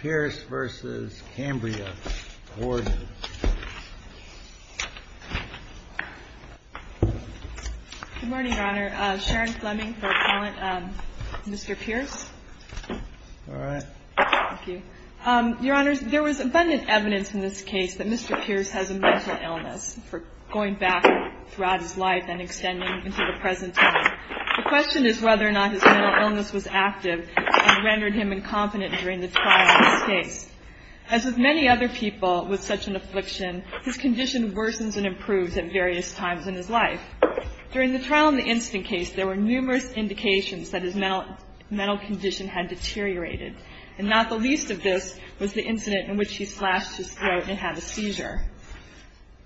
Good morning, Your Honor. Sharon Fleming for appellant. Mr. Pierce. All right. Thank you. Your Honor, there was abundant evidence in this case that Mr. Pierce has a mental illness for going back throughout his life and extending into the present time. The question is whether or not his mental illness was active and rendered him incompetent during the trial. As with many other people with such an affliction, his condition worsens and improves at various times in his life. During the trial in the instant case, there were numerous indications that his mental condition had deteriorated. And not the least of this was the incident in which he slashed his throat and had a seizure.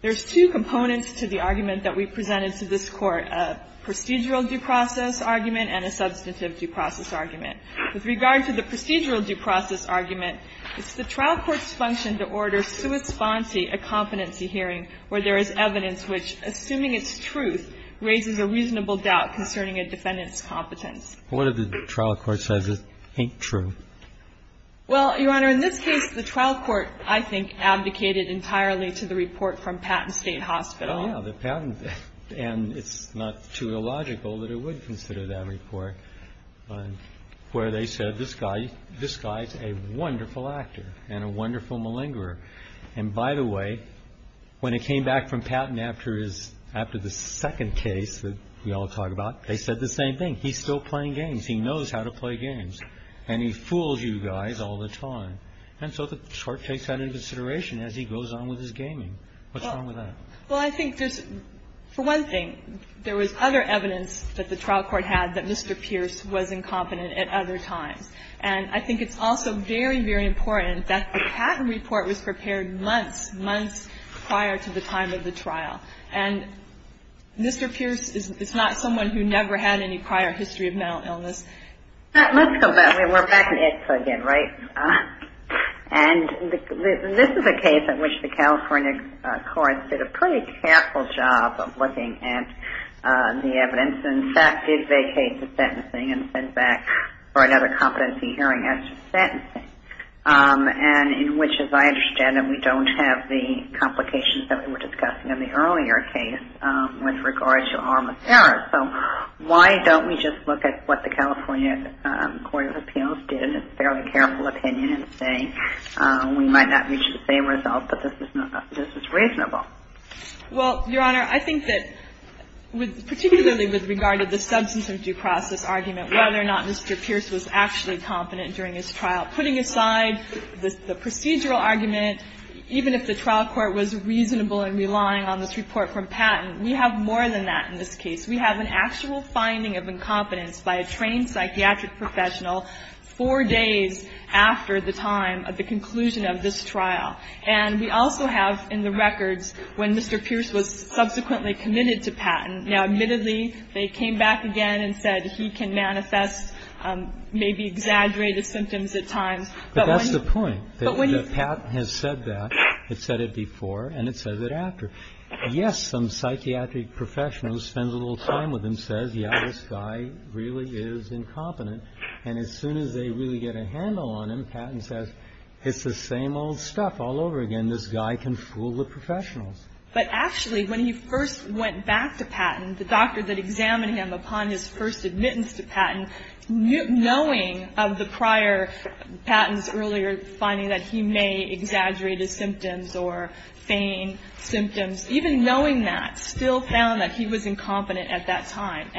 There's two components to the argument that we presented to this Court, a procedural due process argument and a substantive due process argument. With regard to the procedural due process argument, it's the trial court's function to order sua sponsi, a competency hearing, where there is evidence which, assuming it's truth, raises a reasonable doubt concerning a defendant's competence. What if the trial court says it ain't true? Well, Your Honor, in this case, the trial court, I think, abdicated entirely to the report from Patton State Hospital. Oh, yeah, the Patton, and it's not too illogical that it would consider that report, where they said this guy, this guy's a wonderful actor and a wonderful malingerer. And by the way, when it came back from Patton after his, after the second case that we all talked about, they said the same thing. He's still playing games. He knows how to play games. And he fools you guys all the time. And so the Court takes that into consideration as he goes on with his gaming. What's wrong with that? Well, I think there's, for one thing, there was other evidence that the trial court had that Mr. Pierce was incompetent at other times. And I think it's also very, very important that the Patton report was prepared months, months prior to the time of the trial. And Mr. Pierce is not someone who never had any prior history of mental illness. Let's go back. We're back in ITSA again, right? And this is a case in which the California courts did a pretty careful job of looking at the evidence, and in fact did vacate the sentencing and sent back for another competency hearing as to sentencing. And in which, as I understand it, we don't have the complications that we were discussing in the earlier case with regard to arm of terror. So why don't we just look at what the California Court of Appeals did in its fairly careful opinion and say we might not reach the same result, but this is reasonable? Well, Your Honor, I think that particularly with regard to the substance of due process argument, whether or not Mr. Pierce was actually competent during his trial, putting aside the procedural argument, even if the trial court was reasonable in relying on this report from Patton, we have more than that in this case. We have an actual finding of incompetence by a trained psychiatric professional four days after the time of the conclusion of this trial. And we also have in the records when Mr. Pierce was subsequently committed to Patton. Now, admittedly, they came back again and said he can manifest maybe exaggerated symptoms at times. But that's the point, that when Patton has said that, it said it before and it says it after. Yes, some psychiatric professional who spends a little time with him says, yes, this guy really is incompetent. And as soon as they really get a handle on him, Patton says, it's the same old stuff all over again. This guy can fool the professionals. But actually, when he first went back to Patton, the doctor that examined him upon his first admittance to Patton, knowing of the prior Patton's earlier finding that he may exaggerate his symptoms or feign symptoms, even knowing that, still found that he was incompetent at that time.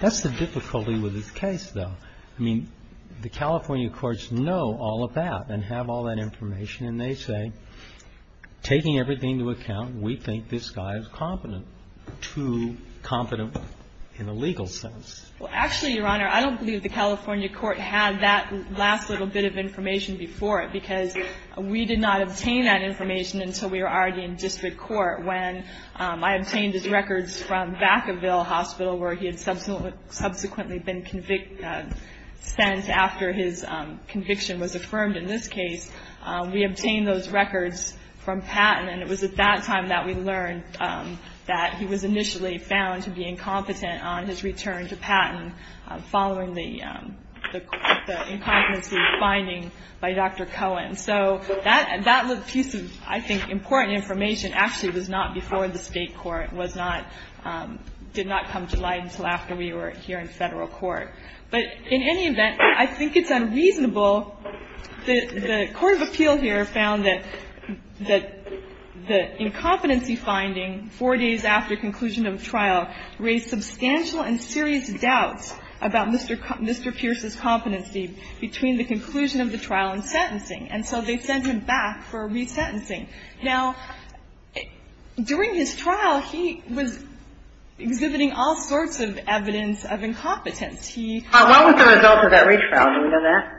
That's the difficulty with this case, though. I mean, the California courts know all of that and have all that information. And they say, taking everything into account, we think this guy is competent, too competent in a legal sense. Well, actually, Your Honor, I don't believe the California court had that last little bit of information before it, because we did not obtain that information until we were already in district court when I obtained his records from Vacaville Hospital, where he had subsequently been sent after his conviction was affirmed. In this case, we obtained those records from Patton, and it was at that time that we learned that he was initially found to be incompetent on his return to Patton, following the incompetency finding by Dr. Cohen. So that piece of, I think, important information actually was not before the State court, was not, did not come to light until after we were here in Federal court. But in any event, I think it's unreasonable that the court of appeal here found that the incompetency finding four days after conclusion of trial raised substantial and serious doubts about Mr. Pierce's competency between the conclusion of the trial and sentencing. And so they sent him back for resentencing. Now, during his trial, he was exhibiting all sorts of evidence of incompetence. He ---- What was the result of that retrial? Do we know that?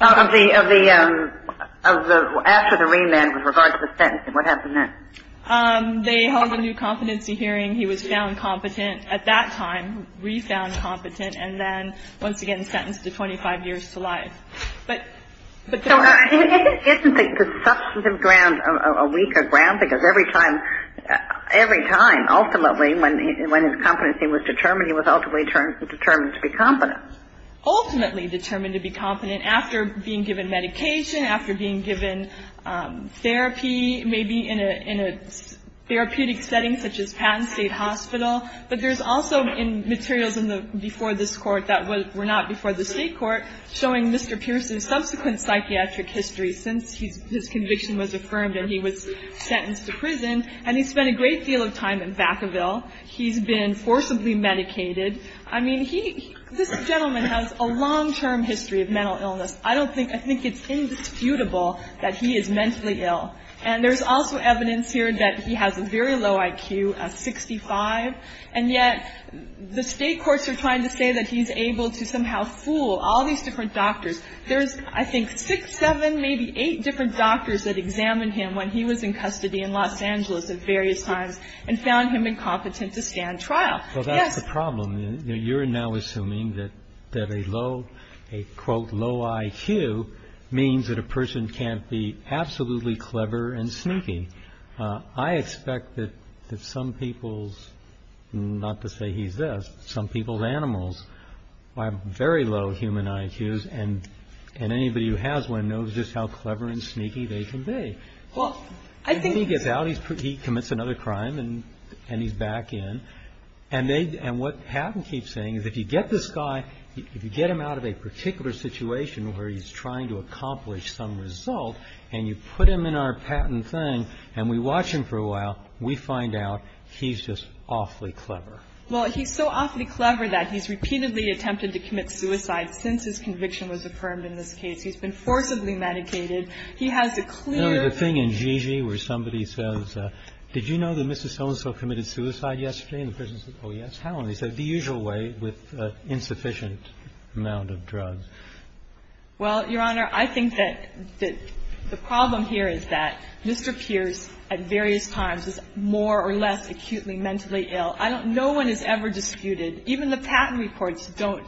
Of the, of the, of the, after the remand with regard to the sentencing. What happened then? They held a new competency hearing. He was found competent at that time, re-found competent, and then once again sentenced to 25 years to life. But, but the ---- Isn't the substantive ground a weaker ground? Because every time, every time, ultimately, when his competency was determined, he was ultimately determined to be competent. Ultimately determined to be competent after being given medication, after being given therapy, maybe in a, in a therapeutic setting such as Patton State Hospital. But there's also in materials in the, before this court that were not before the state court, showing Mr. Pierce's subsequent psychiatric history since he's, his conviction was affirmed and he was sentenced to prison. And he spent a great deal of time in Vacaville. He's been forcibly medicated. I mean, he, this gentleman has a long-term history of mental illness. I don't think, I think it's indisputable that he is mentally ill. And there's also evidence here that he has a very low IQ, a 65. And yet, the state courts are trying to say that he's able to somehow fool all these different doctors. There's, I think, six, seven, maybe eight different doctors that examined him when he was in custody in Los Angeles at various times and found him incompetent to stand trial. Yes. Well, that's the problem. You're now assuming that a low, a, quote, low IQ means that a person can't be absolutely clever and sneaky. I expect that some people's, not to say he's this, some people's animals have very low human IQs. And anybody who has one knows just how clever and sneaky they can be. Well, I think. When he gets out, he commits another crime and he's back in. And they, and what Patton keeps saying is if you get this guy, if you get him out of a particular situation where he's trying to accomplish some result and you put him in our Patton thing and we watch him for a while, we find out he's just awfully clever. Well, he's so awfully clever that he's repeatedly attempted to commit suicide since his conviction was affirmed in this case. He's been forcibly medicated. He has a clear. The thing in Gigi where somebody says, did you know that Mr. So-and-so committed suicide yesterday? And the person says, oh, yes. How? And they say the usual way with insufficient amount of drugs. Well, Your Honor, I think that the problem here is that Mr. Pierce at various times is more or less acutely mentally ill. I don't, no one has ever disputed, even the Patton reports don't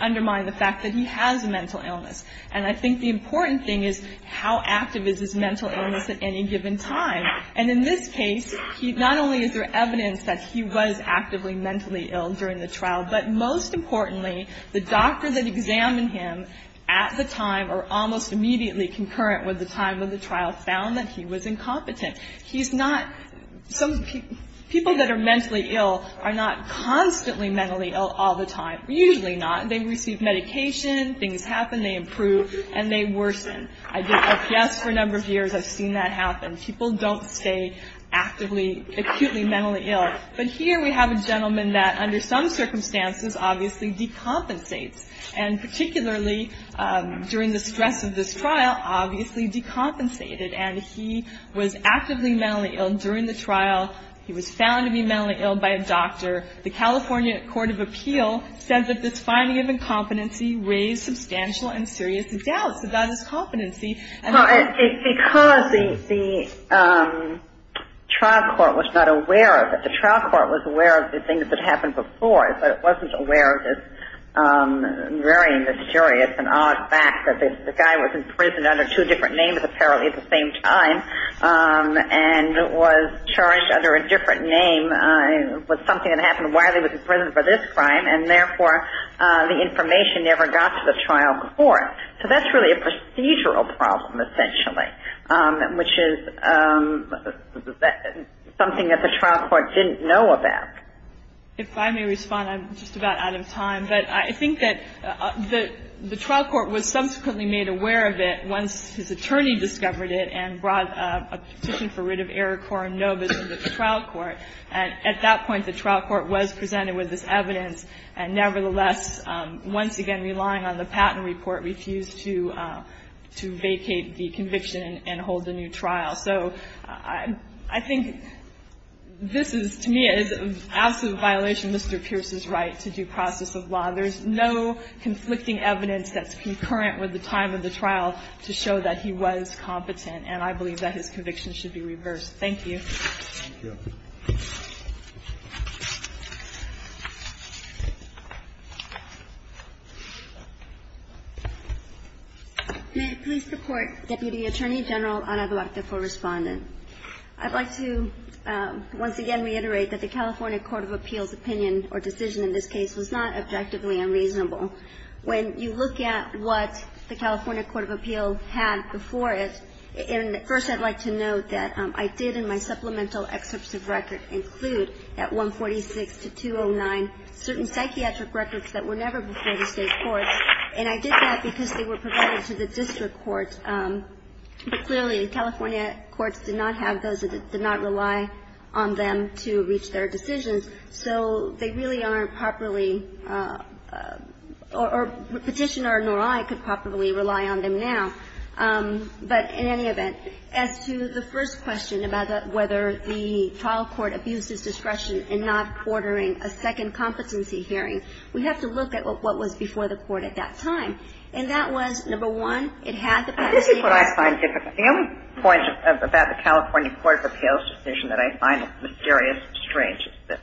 undermine the fact that he has a mental illness. And I think the important thing is how active is his mental illness at any given time. And in this case, not only is there evidence that he was actively mentally ill during the trial, but most importantly, the doctor that examined him at the time or almost immediately concurrent with the time of the trial found that he was incompetent. He's not, some people that are mentally ill are not constantly mentally ill all the time. Usually not. They receive medication. Things happen. They improve. And they worsen. I did LPS for a number of years. I've seen that happen. People don't stay actively, acutely mentally ill. But here we have a gentleman that under some circumstances obviously decompensates and particularly during the stress of this trial, obviously decompensated. And he was actively mentally ill during the trial. He was found to be mentally ill by a doctor. The California Court of Appeal says that this finding of incompetency raised substantial and serious doubts about his competency. Because the trial court was not aware of it. The trial court was aware of the things that happened before, but it wasn't aware of this very mysterious and odd fact that the guy was in prison under two different names apparently at the same time and was charged under a different name and was something that happened while he was in prison for this crime and therefore the information never got to the trial court. So that's really a procedural problem essentially, which is something that the trial court didn't know about. If I may respond, I'm just about out of time. But I think that the trial court was subsequently made aware of it once his attorney discovered it and brought a petition for rid of Eric Korenobis into the trial court. And at that point, the trial court was presented with this evidence. And nevertheless, once again relying on the patent report, refused to vacate the conviction and hold the new trial. So I think this is to me an absolute violation of Mr. Pierce's right to due process of law. There's no conflicting evidence that's concurrent with the time of the trial to show that he was competent. And I believe that his conviction should be reversed. Thank you. Thank you. May it please the Court, Deputy Attorney General Ana Duarte for Respondent. I'd like to once again reiterate that the California Court of Appeals opinion or decision in this case was not objectively unreasonable. When you look at what the California Court of Appeals had before it, and at first I'd like to note that I did in my supplemental excerpts of record include at 146 to 209 certain psychiatric records that were never before the State courts. And I did that because they were provided to the district courts. But clearly, the California courts did not have those that did not rely on them to reach their decisions. So they really aren't properly or Petitioner nor I could properly rely on them now. But in any event, as to the first question about whether the trial court abused its discretion in not ordering a second competency hearing, we have to look at what was before the court at that time. And that was, number one, it had the penalty. This is what I find difficult. The only point about the California Court of Appeals decision that I find mysterious or strange is this.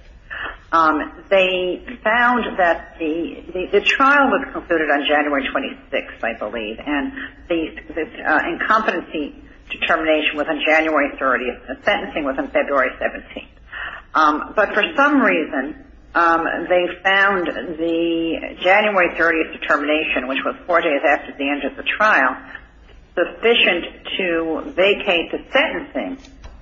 They found that the trial was concluded on January 26th, I believe. And the incompetency determination was on January 30th. The sentencing was on February 17th. But for some reason, they found the January 30th determination, which was four days after the end of the trial, sufficient to vacate the sentencing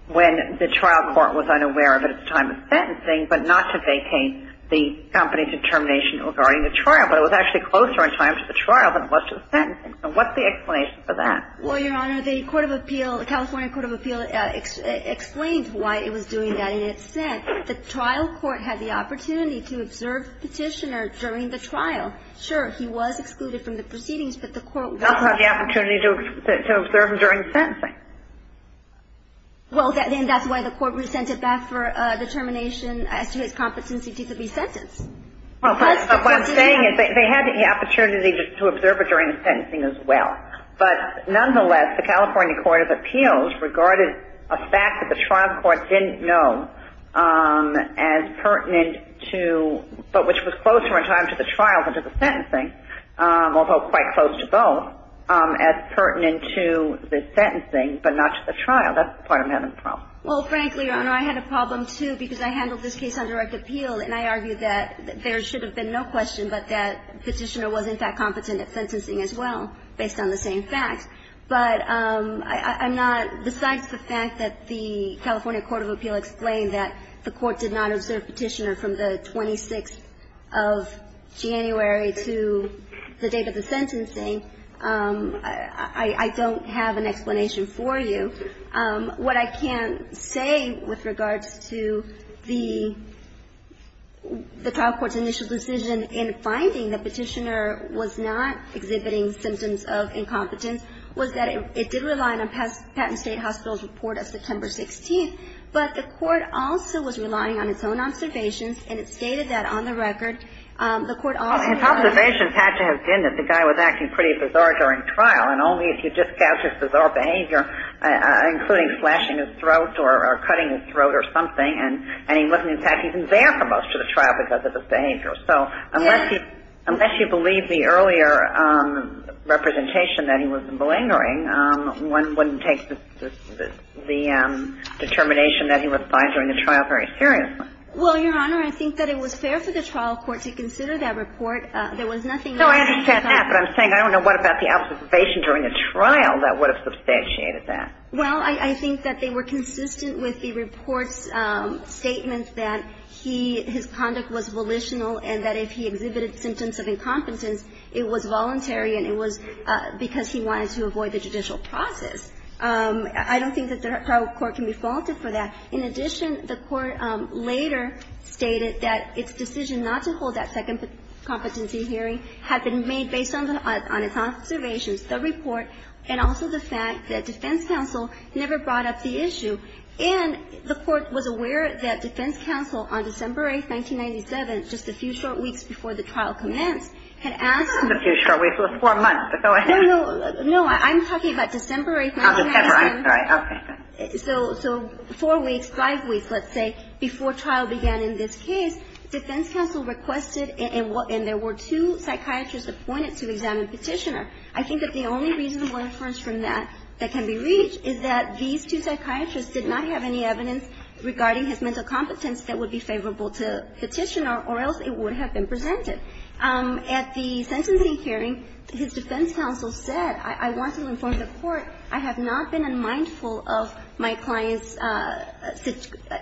when the trial court was unaware of it at the time of sentencing, but not to vacate the company's determination regarding the trial. But it was actually closer in time to the trial than it was to the sentencing. And what's the explanation for that? Well, Your Honor, the Court of Appeal, the California Court of Appeal, explained why it was doing that. And it said the trial court had the opportunity to observe Petitioner during the trial. Sure, he was excluded from the proceedings, but the court was not. It doesn't have the opportunity to observe him during the sentencing. Well, then that's why the court resented back for determination as to his competency to be sentenced. Well, what I'm saying is they had the opportunity to observe it during the sentencing as well. But nonetheless, the California Court of Appeals regarded a fact that the trial court didn't know as pertinent to – but which was closer in time to the trial than to the sentencing, but not to the trial. That's part of the problem. Well, frankly, Your Honor, I had a problem, too, because I handled this case on direct appeal, and I argued that there should have been no question but that Petitioner was, in fact, competent at sentencing as well, based on the same facts. But I'm not – besides the fact that the California Court of Appeal explained that the court did not observe Petitioner from the 26th of January to the date of the sentencing, I can't say with regard to the trial court's initial decision in finding that Petitioner was not exhibiting symptoms of incompetence, was that it did rely on Patton State Hospital's report of September 16th. But the court also was relying on its own observations, and it stated that on the record the court also – Well, his observations had to have been that the guy was acting pretty bizarre during the trial because of his behavior, including flashing his throat or cutting his throat or something, and he wasn't, in fact, even there for most of the trial because of his behavior. So unless you believe the earlier representation that he was malingering, one wouldn't take the determination that he was by during the trial very seriously. Well, Your Honor, I think that it was fair for the trial court to consider that report. There was nothing else that he was on. No, I understand that, but I'm saying I don't know what about the observation during the trial that would have substantiated that. Well, I think that they were consistent with the report's statement that he – his conduct was volitional and that if he exhibited symptoms of incompetence, it was voluntary and it was because he wanted to avoid the judicial process. I don't think that the trial court can be faulted for that. In addition, the court later stated that its decision not to hold that second competency hearing had been made based on its observations, the report, and also the fact that defense counsel never brought up the issue. And the court was aware that defense counsel on December 8th, 1997, just a few short weeks before the trial commenced, had asked – Just a few short weeks. It was four months ago. No, no. No, I'm talking about December 8th, 1997. Oh, December. I'm sorry. Okay. So four weeks, five weeks, let's say, before trial began in this case, defense counsel requested and there were two psychiatrists appointed to examine Petitioner. I think that the only reasonable inference from that that can be reached is that these two psychiatrists did not have any evidence regarding his mental competence that would be favorable to Petitioner or else it would have been presented. At the sentencing hearing, his defense counsel said, I want to inform the court I have not been unmindful of my client's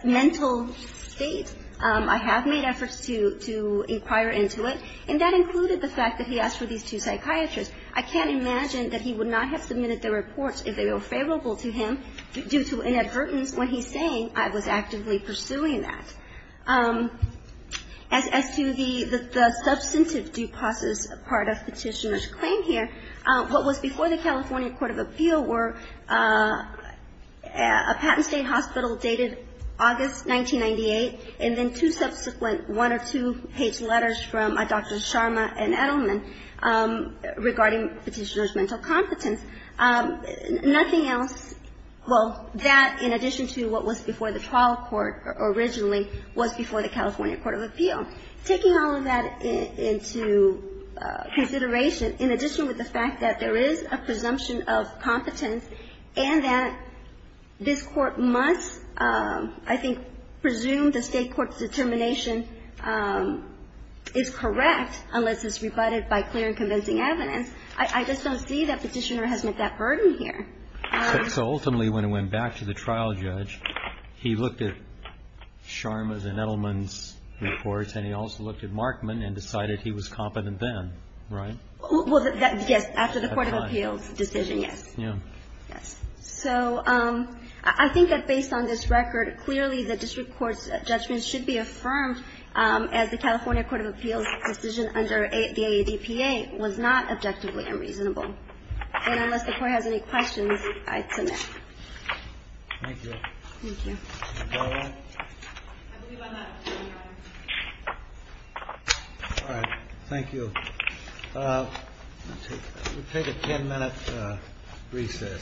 mental state. I have made efforts to inquire into it. And that included the fact that he asked for these two psychiatrists. I can't imagine that he would not have submitted the reports if they were favorable to him due to inadvertence when he's saying I was actively pursuing that. As to the substantive due process part of Petitioner's claim here, what was before the California court of appeal were a patent state hospital dated August 1998 and then two subsequent one or two-page letters from Dr. Sharma and Edelman regarding Petitioner's mental competence. Nothing else, well, that in addition to what was before the trial court originally was before the California court of appeal. So taking all of that into consideration, in addition with the fact that there is a presumption of competence and that this Court must, I think, presume the State Court's determination is correct unless it's rebutted by clear and convincing evidence, I just don't see that Petitioner has met that burden here. So ultimately when it went back to the trial judge, he looked at Sharma's and Edelman's reports and he also looked at Markman and decided he was competent then, right? Well, yes, after the court of appeals decision, yes. Yes. So I think that based on this record, clearly the district court's judgment should be affirmed as the California court of appeals decision under the AADPA was not objectively unreasonable. And unless the Court has any questions, I submit. Thank you. Thank you. I believe I'm up. All right. Thank you. We'll take a ten minute recess.